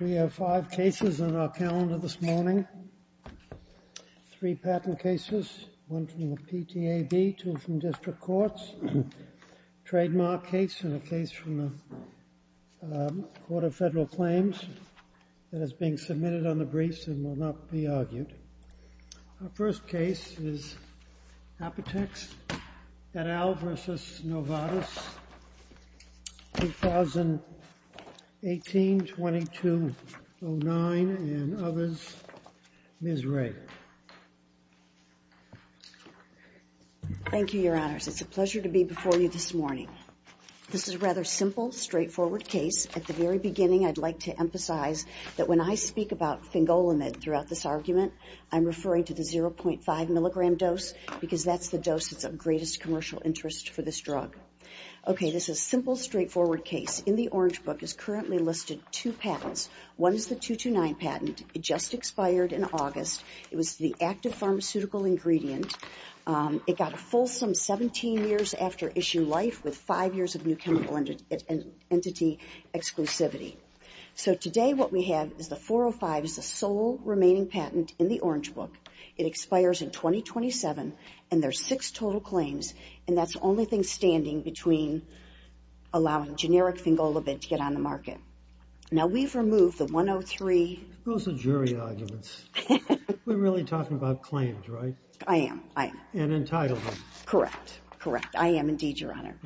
We have five cases on our calendar this morning, three patent cases, one from the PTAB, two from district courts, a trademark case and a case from the Court of Federal Claims that is being submitted on the briefs and will not be argued. Our first case is Apotex et al. v. Novartis, 2018-2209, and others. Ms. Ray. Thank you, Your Honors. It's a pleasure to be before you this morning. This is a rather simple, straightforward case. At the very beginning, I'd like to emphasize that when I speak about Fingolimid throughout this argument, I'm referring to the 0.5 milligram dose because that's the dose that's of greatest commercial interest for this drug. Okay, this is a simple, straightforward case. In the orange book is currently listed two patents. One is the 229 patent. It just expired in August. It was the active pharmaceutical ingredient. It got a fulsome 17 years after issue life with five years of new chemical entity exclusivity. So today what we have is the 405 is the sole remaining patent in the orange book. It expires in 2027, and there's six total claims, and that's the only thing standing between allowing generic Fingolimid to get on the market. Now we've removed the 103. Those are jury arguments. We're really talking about claims, right? I am, I am. And entitlement. Correct, correct. I am indeed, Your Honor.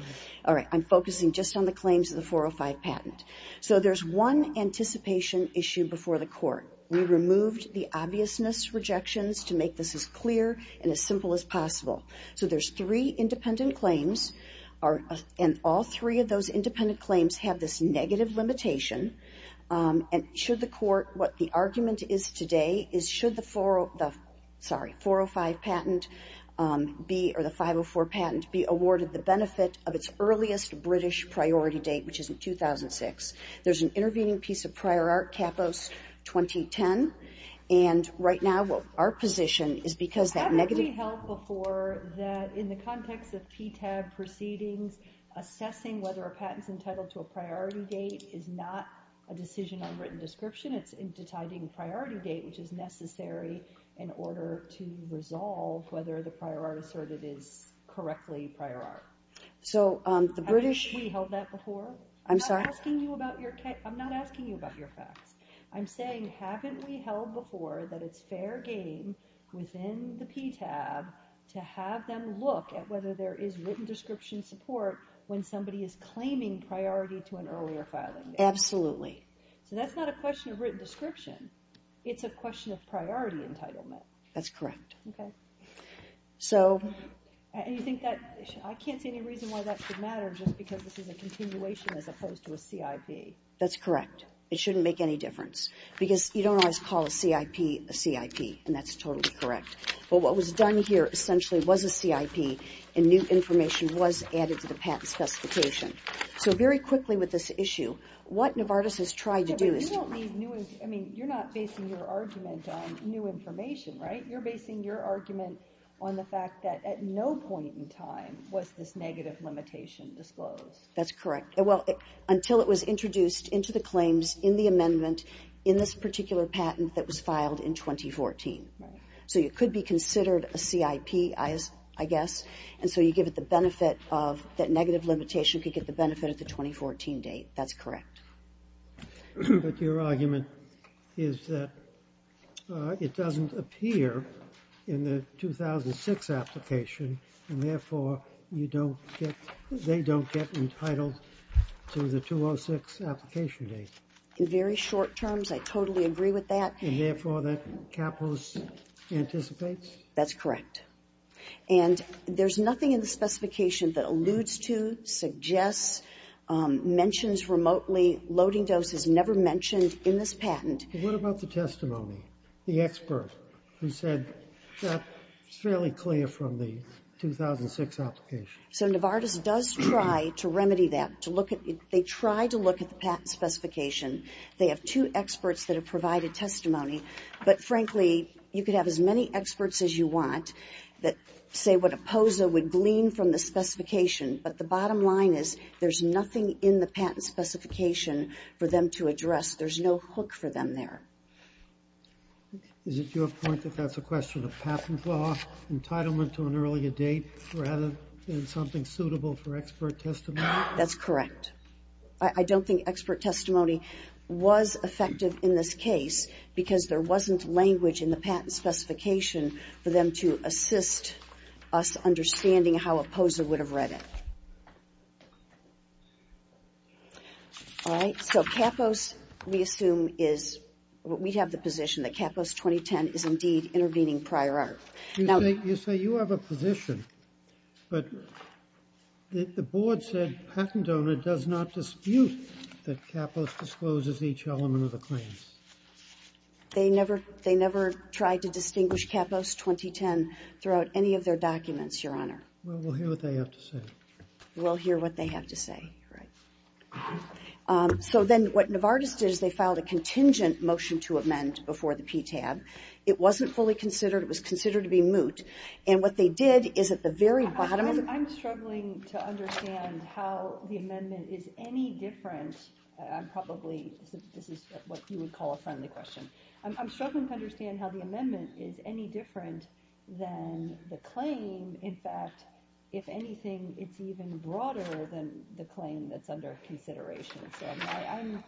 All right, I'm focusing just on the claims of the 405 patent. So there's one anticipation issue before the court. We removed the obviousness rejections to make this as clear and as simple as possible. So there's three independent claims, and all three of those independent claims have this negative limitation. And should the court, what the argument is today is should the 405 patent be, or the 504 patent be awarded the benefit of its earliest British priority date, which is in 2006. There's an intervening piece of prior art, Capos 2010. And right now, what our position is because that negative... Haven't we held before that in the context of PTAB proceedings, assessing whether a patent's entitled to a priority date is not a decision on written description, it's entitling priority date, which is necessary in order to resolve whether the prior art asserted is correctly prior art? So the British... I'm sorry? I'm not asking you about your facts. I'm saying, haven't we held before that it's fair game within the PTAB to have them look at whether there is written description support when somebody is claiming priority to an earlier filing date? Absolutely. So that's not a question of written description. It's a question of priority entitlement. That's correct. Okay. So... And you think that... I can't see any reason why that should matter just because this is a continuation as opposed to a CIP. That's correct. It shouldn't make any difference. Because you don't always call a CIP a CIP, and that's totally correct. But what was done here essentially was a CIP, and new information was added to the patent specification. So very quickly with this issue, what Novartis has tried to do is... Yeah, but you don't need new... I mean, you're not basing your argument on new information, right? You're basing your argument on the fact that at no point in time was this negative limitation disclosed. That's correct. Well, until it was introduced into the claims in the amendment in this particular patent that was filed in 2014. So it could be considered a CIP, I guess, and so you give it the benefit of that negative limitation could get the benefit at the 2014 date. That's correct. But your argument is that it doesn't appear in the 2006 application, and therefore you don't get – they don't get entitled to the 2006 application date. In very short terms, I totally agree with that. And therefore, that capos anticipates? That's correct. And there's nothing in the specification that alludes to, suggests, mentions remotely loading doses, never mentioned in this patent. What about the testimony? The expert who said that's fairly clear from the 2006 application? So Novartis does try to remedy that, to look at – they try to look at the patent specification. They have two experts that have provided testimony, but frankly, you could have as many experts as you want that say what a POSA would glean from the specification. But the bottom line is there's nothing in the patent specification for them to address. There's no hook for them there. Is it your point that that's a question of patent law, entitlement to an earlier date, rather than something suitable for expert testimony? That's correct. I don't think expert testimony was effective in this case because there wasn't language in the patent specification for them to assist us understanding how a patent was made. All right. So Capos, we assume, is – we have the position that Capos 2010 is indeed intervening prior art. You say you have a position, but the board said patent owner does not dispute that Capos discloses each element of the claims. They never tried to distinguish Capos 2010 throughout any of their documents, Your Honor. Well, we'll hear what they have to say. We'll hear what they have to say, right. So then, what Novartis did is they filed a contingent motion to amend before the PTAB. It wasn't fully considered. It was considered to be moot. And what they did is at the very bottom of the – I'm struggling to understand how the amendment is any different. I'm probably – this is what you would call a friendly question. I'm struggling to understand how the amendment is any different than the claim, in fact, if anything, it's even broader than the claim that's under consideration. So I'm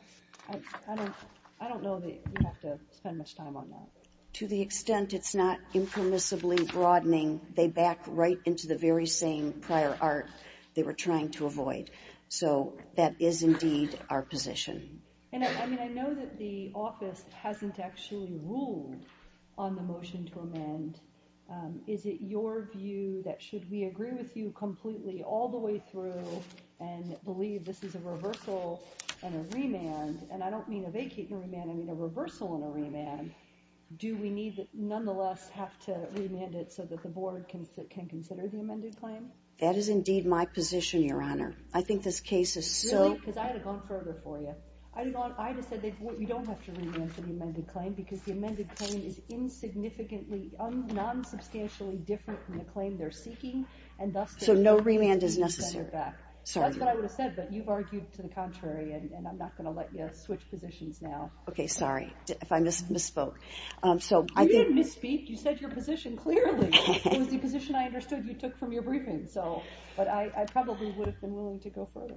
– I don't know that we have to spend much time on that. To the extent it's not impermissibly broadening, they back right into the very same prior art they were trying to avoid. So that is indeed our position. And I mean, I know that the office hasn't actually ruled on the motion to amend. Is it your view that should we agree with you completely all the way through and believe this is a reversal and a remand – and I don't mean a vacating remand, I mean a reversal and a remand – do we need – nonetheless have to remand it so that the board can consider the amended claim? That is indeed my position, Your Honor. I think this case is so – Really? Because I would have gone further for you. I would have said that we don't have to remand for the amended claim because the amended claim is insignificantly, non-substantially different from the claim they're seeking, and thus – So no remand is necessary. That's what I would have said, but you've argued to the contrary, and I'm not going to let you switch positions now. Okay, sorry if I misspoke. You didn't misspeak, you said your position clearly. It was the position I understood you took from your briefing, so – but I probably would have been willing to go further.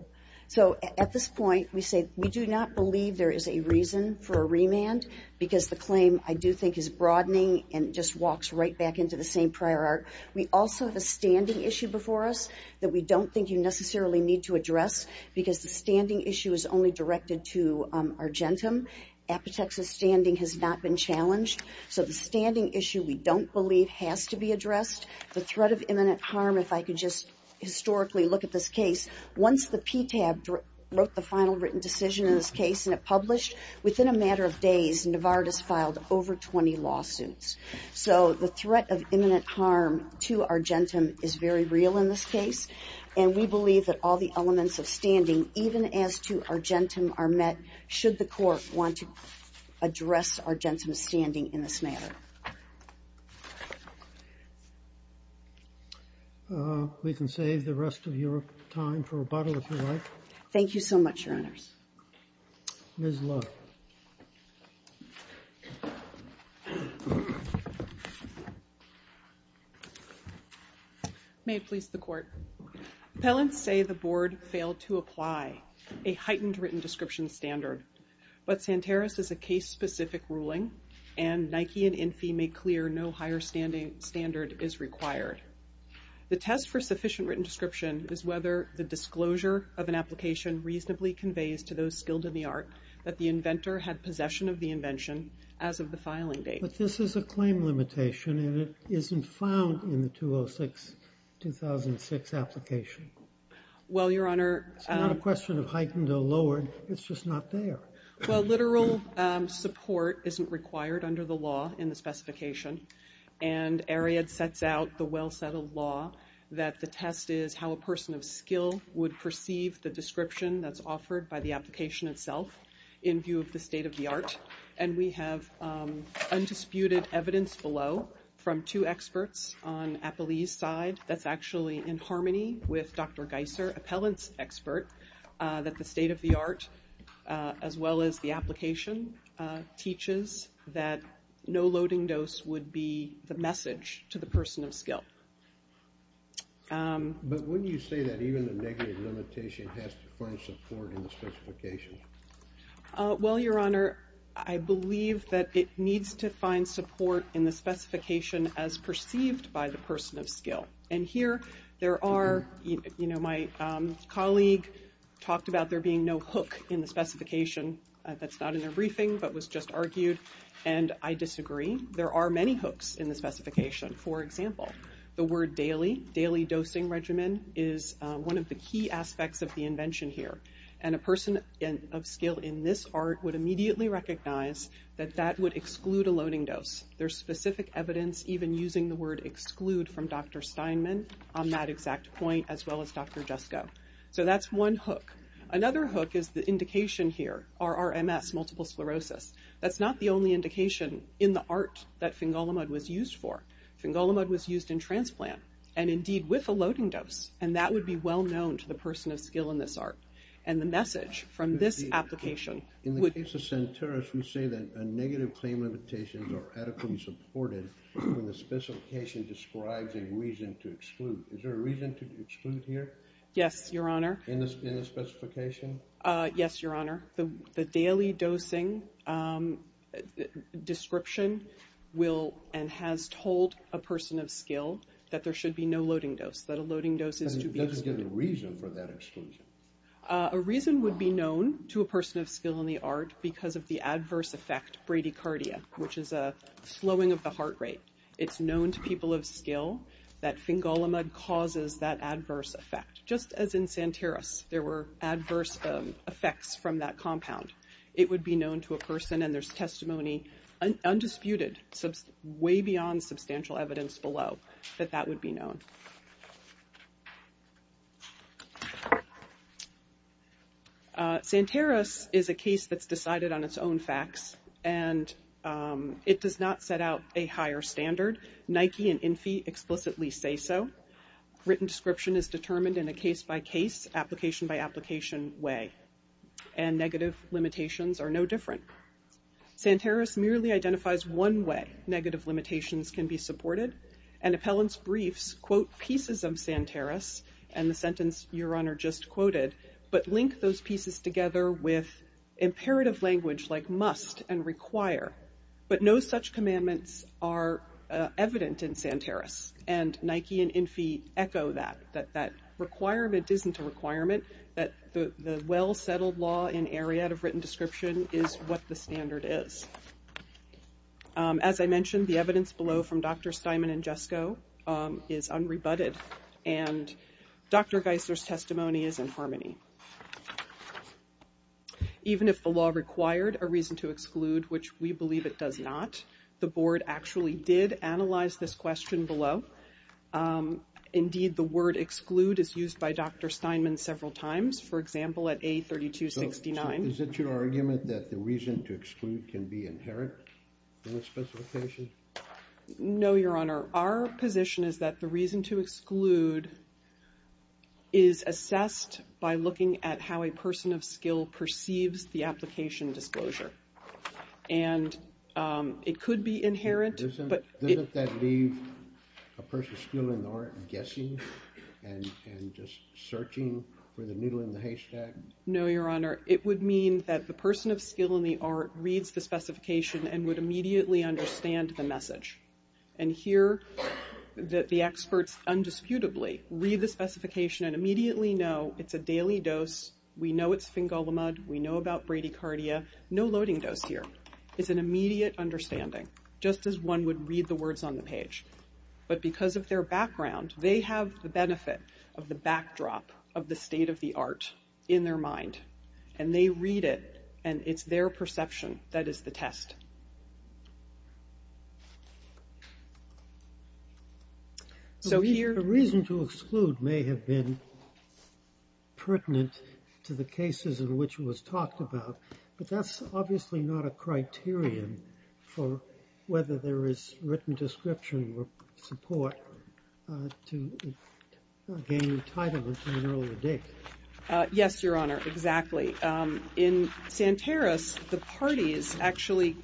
So at this point, we say we do not believe there is a reason for a remand because the claim, I do think, is broadening and just walks right back into the same prior art. We also have a standing issue before us that we don't think you necessarily need to address because the standing issue is only directed to Argentum. Apotex's standing has not been challenged. So the standing issue we don't believe has to be addressed. The threat of imminent harm, if I could just historically look at this case, once the PTAB wrote the final written decision in this case and it published, within a matter of days, Navarrette has filed over 20 lawsuits. So the threat of imminent harm to Argentum is very real in this case, and we believe that all the elements of standing, even as to Argentum, are met should the court want to address Argentum's standing in this matter. We can save the rest of your time for rebuttal, if you like. Thank you so much, Your Honors. Ms. Lowe. May it please the court. Appellants say the board failed to apply a heightened written description standard, but Santeros is a case-specific ruling, and Nike and Infy make clear no higher standard is required. The test for sufficient written description is whether the disclosure of an application reasonably conveys to those skilled in the art that the inventor had possession of the invention as of the filing date. But this is a claim limitation, and it isn't found in the 2006 application. Well, Your Honor. It's not a question of heightened or lowered. It's just not there. Well, literal support isn't required under the law in the specification, and Ariad sets out the well-settled law that the test is how a person of skill would perceive the description that's offered by the application itself in view of the state of the art. And we have undisputed evidence below from two experts on Appellee's side that's actually in harmony with Dr. Geisser, appellant's expert, that the state of the art, as well as the application, teaches that no loading dose would be the message to the person of skill. But wouldn't you say that even the negative limitation has to find support in the specification? Well, Your Honor, I believe that it needs to find support in the specification as perceived by the person of skill. And here there are, you know, my colleague talked about there being no hook in the specification. That's not in their briefing, but was just argued. And I disagree. There are many hooks in the specification. For example, the word daily, daily dosing regimen, is one of the key aspects of the invention here. And a person of skill in this art would immediately recognize that that would exclude a loading dose. There's specific evidence even using the word exclude from Dr. Steinman on that exact point, as well as Dr. Jesko. So that's one hook. Another hook is the indication here, RRMS, multiple sclerosis. That's not the only indication in the art that Fingolimod was used for. Fingolimod was used in transplant, and indeed with a loading dose. And that would be well known to the person of skill in this art. And the message from this application would- In the case of Santeros, we say that a negative claim limitations are adequately supported when the specification describes a reason to exclude. Is there a reason to exclude here? Yes, Your Honor. In the specification? Yes, Your Honor. The daily dosing description will and has told a person of skill that there should be no loading dose, that a loading dose is to be excluded. And does it give a reason for that exclusion? A reason would be known to a person of skill in the art because of the adverse effect bradycardia, which is a slowing of the heart rate. It's known to people of skill that Fingolimod causes that adverse effect. Just as in Santeros, there were adverse effects from that compound. It would be known to a person, and there's testimony undisputed, way beyond substantial evidence below, that that would be known. Santeros is a case that's decided on its own facts, and it does not set out a higher standard. Nike and Infy explicitly say so. Written description is determined in a case-by-case, application-by-application way. And negative limitations are no different. Santeros merely identifies one way negative limitations can be supported. And appellant's briefs quote pieces of Santeros, and the sentence Your Honor just quoted, but link those pieces together with imperative language like must and require. But no such commandments are evident in Santeros. And Nike and Infy echo that, that that requirement isn't a requirement, that the well-settled law in Ariadne of written description is what the standard is. As I mentioned, the evidence below from Dr. Steinman and Jesko is unrebutted. And Dr. Geisler's testimony is in harmony. Even if the law required a reason to exclude, which we believe it does not, the board actually did analyze this question below. Indeed, the word exclude is used by Dr. Steinman several times. For example, at A3269. Is it your argument that the reason to exclude can be inherent in the specification? No, Your Honor. Our position is that the reason to exclude is assessed by looking at how a person of skill perceives the application disclosure. And it could be inherent, but it- Doesn't that leave a person of skill in the art guessing and just searching for the needle in the haystack? No, Your Honor. It would mean that the person of skill in the art reads the specification and would immediately understand the message. And hear that the experts undisputably read the specification and immediately know it's a daily dose. We know it's fingolimod. We know about bradycardia. No loading dose here. It's an immediate understanding, just as one would read the words on the page. But because of their background, they have the benefit of the backdrop of the state of the art in their mind. And they read it, and it's their perception that is the test. So here- The reason to exclude may have been pertinent to the cases in which it was talked about. But that's obviously not a criterion for whether there is written description or support to gain entitlement in an early date. Yes, Your Honor, exactly. In Santeros, the parties actually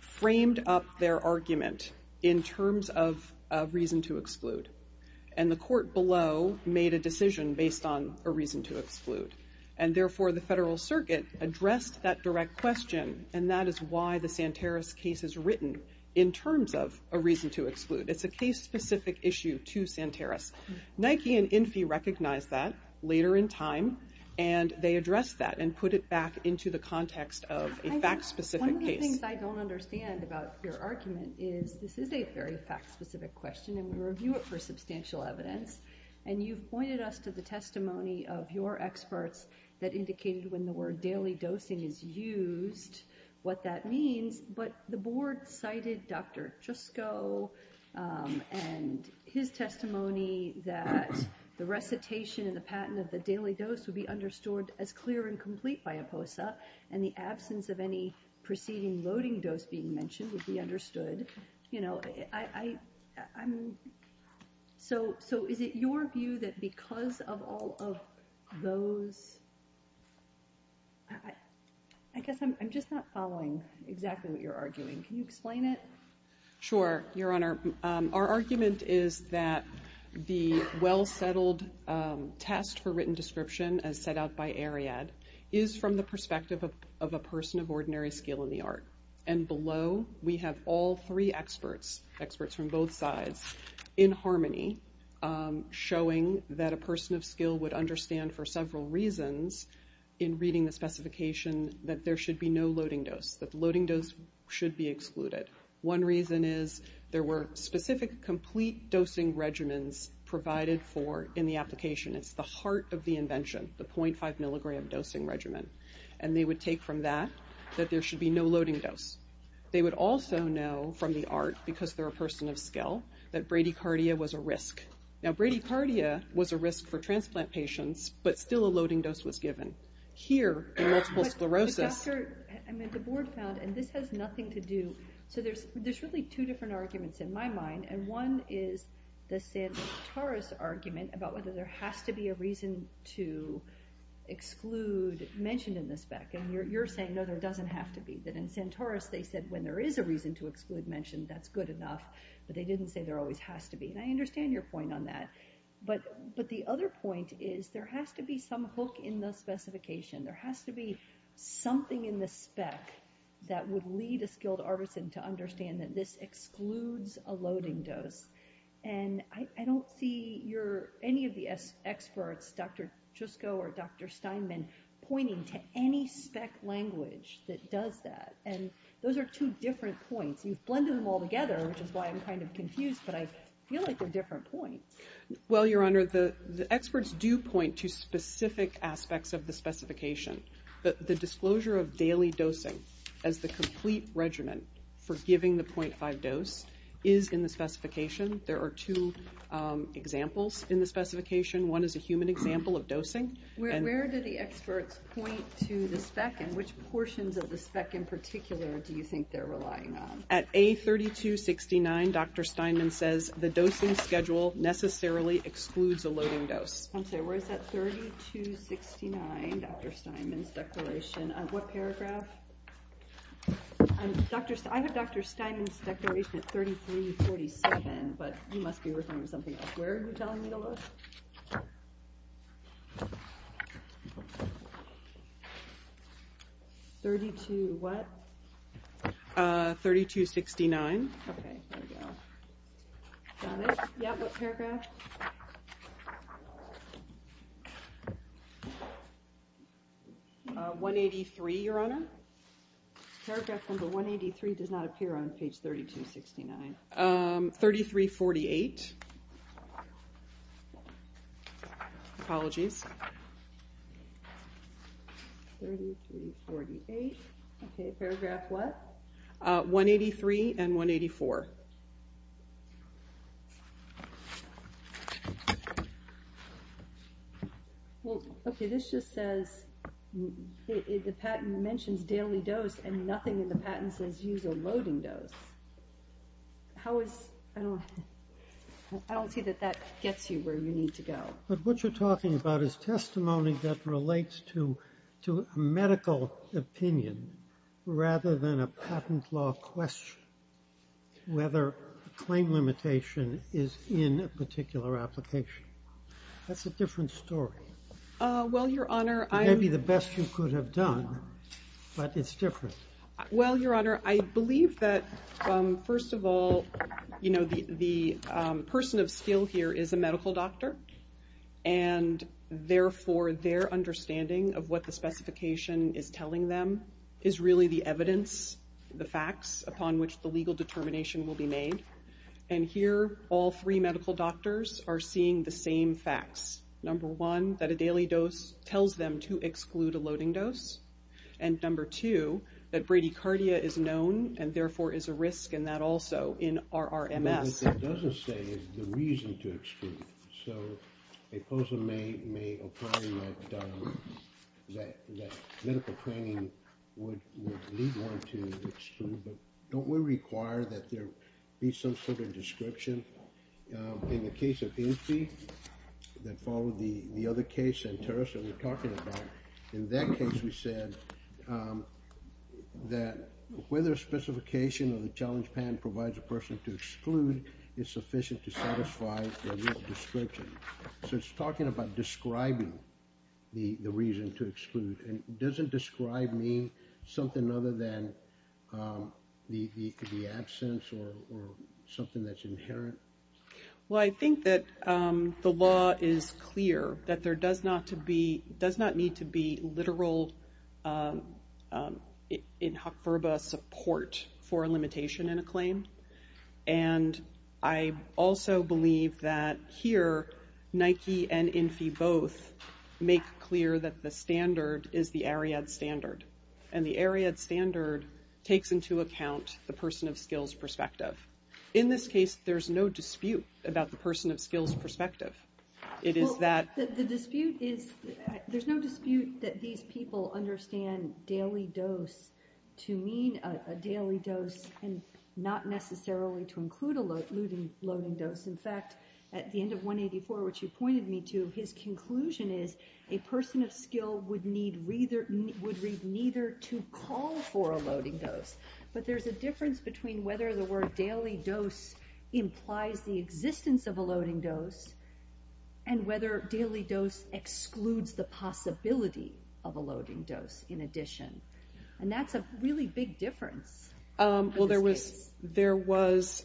framed up their argument in terms of a reason to exclude. And the court below made a decision based on a reason to exclude. And therefore, the federal circuit addressed that direct question. And that is why the Santeros case is written in terms of a reason to exclude. It's a case-specific issue to Santeros. Nike and Infy recognized that later in time. And they addressed that and put it back into the context of a fact-specific case. One of the things I don't understand about your argument is this is a very fact-specific question, and we review it for substantial evidence. And you've pointed us to the testimony of your experts that indicated when the word daily dosing is used, what that means. But the board cited Dr. Trusco and his testimony that the recitation and the patent of the daily dose would be understood as clear and complete by IPOSA. And the absence of any preceding loading dose being mentioned would be understood. So is it your view that because of all of those... I guess I'm just not following exactly what you're arguing. Can you explain it? Sure, Your Honor. Our argument is that the well-settled test for written description, as set out by Ariad, is from the perspective of a person of ordinary skill in the art. And below, we have all three experts, experts from both sides, in harmony, showing that a person of skill would understand for several reasons in reading the specification that there should be no loading dose, that the loading dose should be excluded. One reason is there were specific complete dosing regimens provided for in the application. It's the heart of the invention, the 0.5 milligram dosing regimen. And they would take from that that there should be no loading dose. They would also know from the art, because they're a person of skill, that bradycardia was a risk. Now, bradycardia was a risk for transplant patients, but still a loading dose was given. Here, in multiple sclerosis... But, Doctor, I mean, the board found, and this has nothing to do... So there's really two different arguments in my mind, and one is the Sam Taras argument about whether there has to be a reason to exclude mentioned in the spec. And you're saying, no, there doesn't have to be. That in Sam Taras, they said, when there is a reason to exclude mentioned, that's good enough. But they didn't say there always has to be. And I understand your point on that. But the other point is there has to be some hook in the specification. There has to be something in the spec that would lead a skilled artisan to understand that this excludes a loading dose. And I don't see any of the experts, Dr. Jusko or Dr. Steinman, pointing to any spec language that does that. And those are two different points. You've blended them all together, which is why I'm kind of confused, but I feel like they're different points. Well, Your Honor, the experts do point to specific aspects of the specification. The disclosure of daily dosing as the complete regimen for giving the 0.5 dose is in the specification. There are two examples in the specification. One is a human example of dosing. Where do the experts point to the spec and which portions of the spec in particular do you think they're relying on? At A3269, Dr. Steinman says, the dosing schedule necessarily excludes a loading dose. I'm sorry, where is that, 3269, Dr. Steinman's declaration? What paragraph? I have Dr. Steinman's declaration at 3347, but you must be referring to something else. Where are you telling me to look? 32 what? 3269. Okay, there we go. Got it? Yeah, what paragraph? 183, Your Honor. Paragraph number 183 does not appear on page 3269. 3348. Apologies. 3348. Okay, paragraph what? 183 and 184. Well, okay, this just says, the patent mentions daily dose and nothing in the patent says use a loading dose. How is, I don't see that that gets you where you need to go. But what you're talking about is testimony that relates to medical opinion rather than a patent law question whether claim limitation is in a particular application. That's a different story. Well, Your Honor, I'm... Maybe the best you could have done, but it's different. Well, Your Honor, I believe that first of all, the person of skill here is a medical doctor and therefore their understanding of what the specification is telling them is really the evidence, the facts, upon which the legal determination will be made. And here, all three medical doctors are seeing the same facts. Number one, that a daily dose tells them to exclude a loading dose. And number two, that bradycardia is known and therefore is a risk in that also in our RMS. What it doesn't say is the reason to exclude. So a person may apply that medical training would lead one to exclude, but don't we require that there be some sort of description? In the case of Infi, that followed the other case, and, Teresa, we're talking about, in that case we said that whether a specification of the challenge patent provides a person to exclude is sufficient to satisfy the description. So it's talking about describing the reason to exclude. And doesn't describe mean something other than the absence or something that's inherent? Well, I think that the law is clear that there does not need to be literal, inhoferba support for a limitation in a claim. And I also believe that here, Nike and Infi both make clear that the standard is the Ariad standard. And the Ariad standard takes into account the person of skills perspective. In this case, there's no dispute about the person of skills perspective. It is that... Well, the dispute is, there's no dispute that these people understand daily dose to mean a daily dose and not necessarily to include a loading dose. In fact, at the end of 184, which you pointed me to, his conclusion is a person of skill would need neither to call for a loading dose. But there's a difference between whether the word daily dose implies the existence of a loading dose and whether daily dose excludes the possibility of a loading dose in addition. And that's a really big difference. Well, there was, there was,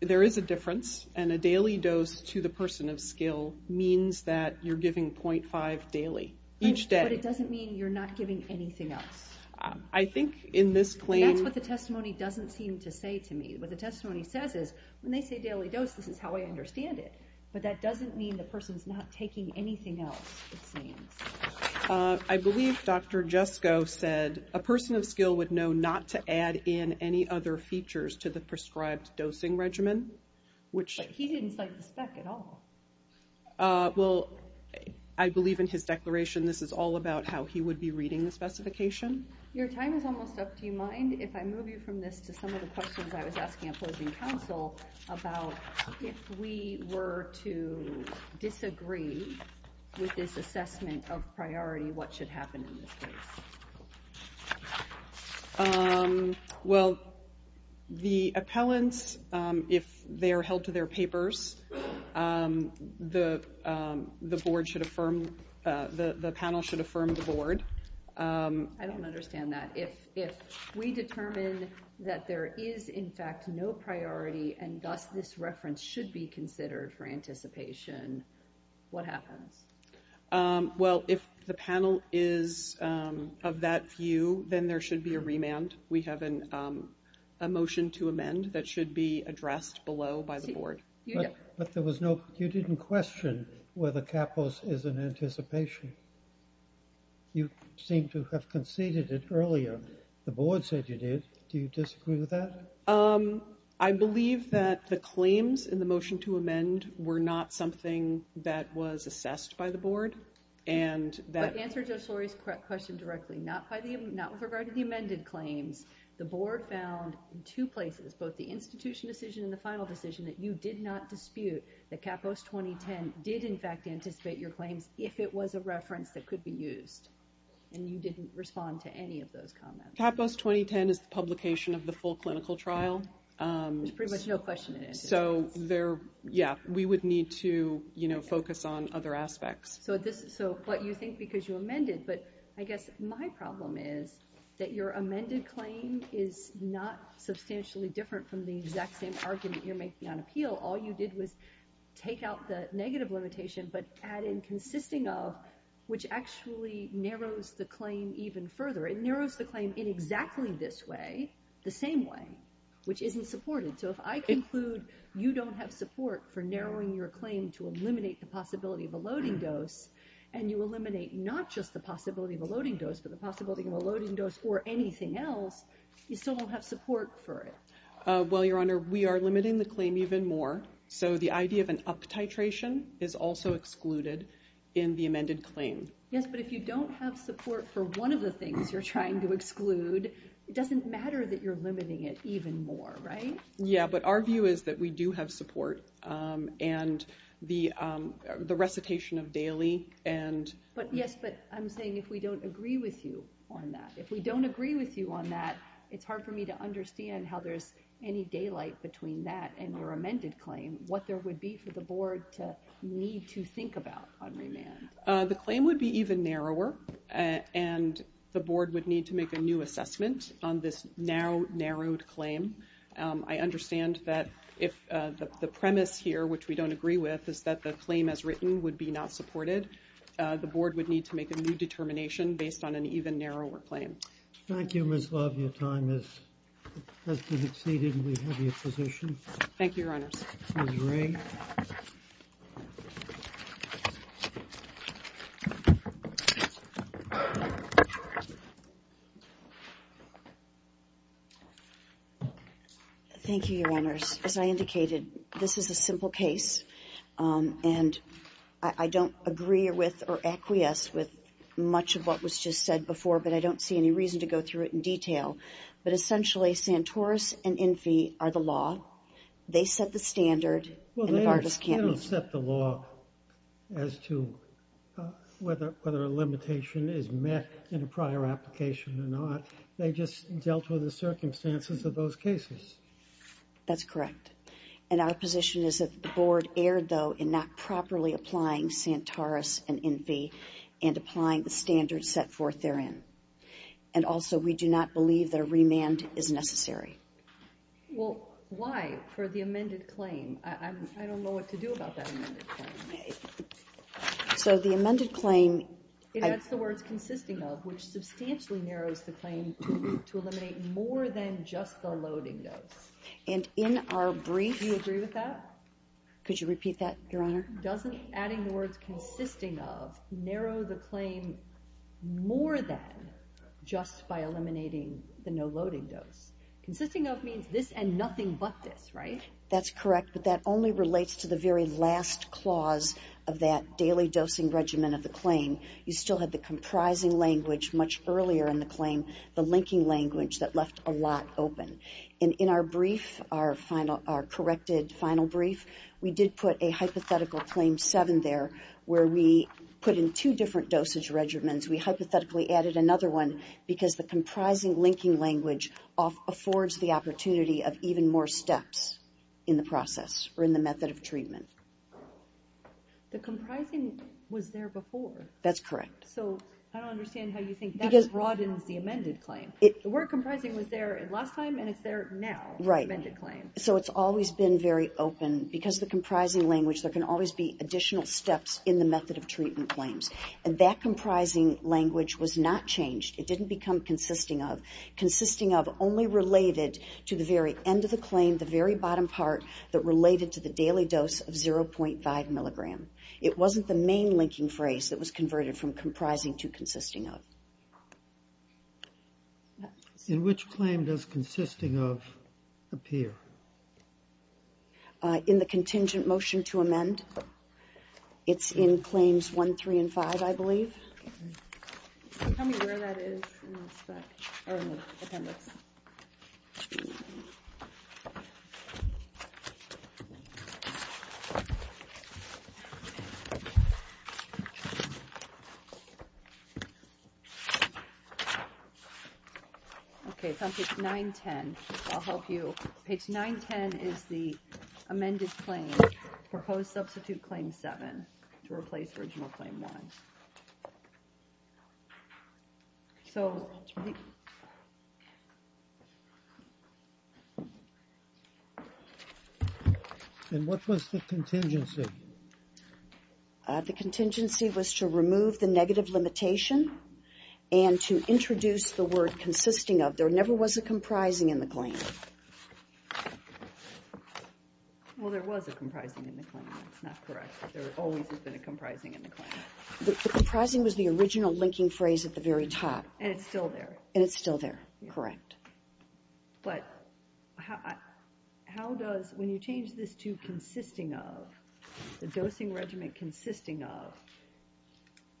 there is a difference. And a daily dose to the person of skill means that you're giving 0.5 daily each day. But it doesn't mean you're not giving anything else. I think in this claim... That's what the testimony doesn't seem to say to me. What the testimony says is, when they say daily dose, this is how I understand it. But that doesn't mean the person's not taking anything else, it seems. I believe Dr. Jesko said, a person of skill would know not to add in any other features to the prescribed dosing regimen, which... But he didn't cite the spec at all. Well, I believe in his declaration, this is all about how he would be reading the specification. Your time is almost up. Do you mind if I move you from this to some of the questions I was asking opposing counsel about if we were to disagree with this assessment of priority, what should happen in this case? Well, the appellants, if they are held to their papers, the board should affirm... The panel should affirm the board. I don't understand that. If we determine that there is, in fact, no priority, and thus this reference should be considered for anticipation, what happens? Well, if the panel is of that view, then there should be a remand. We have a motion to amend that should be addressed below by the board. But there was no... You didn't question whether CAPOS is in anticipation. You seem to have conceded it earlier. The board said you did. Do you disagree with that? I believe that the claims in the motion to amend were not something that was assessed by the board. Answer Judge Lurie's question directly. Not with regard to the amended claims. The board found in two places, both the institution decision and the final decision, that you did not dispute that CAPOS 2010 did, in fact, anticipate your claims if it was a reference that could be used, and you didn't respond to any of those comments. CAPOS 2010 is the publication of the full clinical trial. There's pretty much no question in it. Yeah, we would need to focus on other aspects. So what you think because you amended, but I guess my problem is that your amended claim is not substantially different from the exact same argument you're making on appeal. All you did was take out the negative limitation, but add in consisting of, which actually narrows the claim even further. It narrows the claim in exactly this way, the same way, which isn't supported. So if I conclude you don't have support for narrowing your claim to eliminate the possibility of a loading dose, and you eliminate not just the possibility of a loading dose, but the possibility of a loading dose or anything else, you still don't have support for it. Well, Your Honor, we are limiting the claim even more. So the idea of an up-titration is also excluded in the amended claim. Yes, but if you don't have support for one of the things you're trying to exclude, it doesn't matter that you're limiting it even more, right? Yeah, but our view is that we do have support, and the recitation of daily and... Yes, but I'm saying if we don't agree with you on that, if we don't agree with you on that, it's hard for me to understand how there's any daylight between that and your amended claim, what there would be for the board to need to think about on remand. The claim would be even narrower, and the board would need to make a new assessment on this now narrowed claim. I understand that if the premise here, which we don't agree with, is that the claim as written would be not supported, the board would need to make a new determination based on an even narrower claim. Thank you, Ms. Love. Your time has been exceeded, and we have your position. Thank you, Your Honors. Ms. Ray. Thank you, Your Honors. As I indicated, this is a simple case, and I don't agree with or acquiesce with much of what was just said before, but I don't see any reason to go through it in detail. But essentially, Santoros and INFI are the law. They set the standard, and Nevada's can't. Well, they don't set the law as to whether a limitation is met in a prior application or not. They just dealt with the circumstances of those cases. That's correct. And our position is that the board erred, though, in not properly applying Santoros and INFI and applying the standards set forth therein. And also, we do not believe that a remand is necessary. Well, why, for the amended claim? I don't know what to do about that amended claim. So the amended claim... That's the words consisting of, which substantially narrows the claim to eliminate more than just the loading dose. And in our brief... Do you agree with that? Could you repeat that, Your Honor? Doesn't adding the words consisting of narrow the claim more than just by eliminating the no-loading dose? Consisting of means this and nothing but this, right? That's correct, but that only relates to the very last clause of that daily dosing regimen of the claim. You still have the comprising language much earlier in the claim, the linking language that left a lot open. And in our brief, our corrected final brief, we did put a hypothetical Claim 7 there where we put in two different dosage regimens. We hypothetically added another one because the comprising linking language in the process or in the method of treatment. The comprising was there before. That's correct. So I don't understand how you think that broadens the amended claim. The word comprising was there last time and it's there now, the amended claim. So it's always been very open. Because of the comprising language, there can always be additional steps in the method of treatment claims. And that comprising language was not changed. It didn't become consisting of. Consisting of only related to the very end of the claim, the very bottom part that related to the daily dose of 0.5 milligram. It wasn't the main linking phrase that was converted from comprising to consisting of. In which claim does consisting of appear? In the contingent motion to amend. It's in Claims 1, 3, and 5, I believe. Can you tell me where that is in the appendix? Okay, it's on page 910. I'll help you. Page 910 is the amended claim. Proposed substitute Claim 7 to replace original Claim 1. Proposed substitute Claim 7 to replace original Claim 1. And what was the contingency? The contingency was to remove the negative limitation and to introduce the word consisting of. There never was a comprising in the claim. Well, there was a comprising in the claim. That's not correct. There always has been a comprising in the claim. The comprising was the original linking phrase at the very top. And it's still there. And it's still there, correct. But how does, when you change this to consisting of, the dosing regimen consisting of,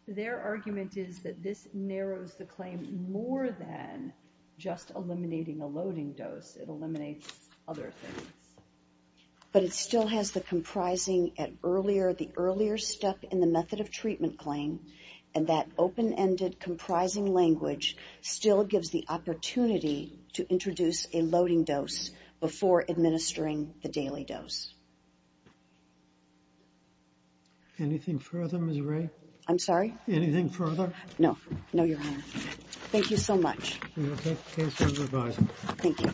their argument is that this narrows the claim more than just eliminating a loading dose. It eliminates other things. But it still has the comprising at earlier, the earlier step in the method of treatment claim. And that open-ended comprising language still gives the opportunity to introduce a loading dose before administering the daily dose. Anything further, Ms. Ray? I'm sorry? Anything further? No. No, Your Honor. And I take the case as advised. Thank you.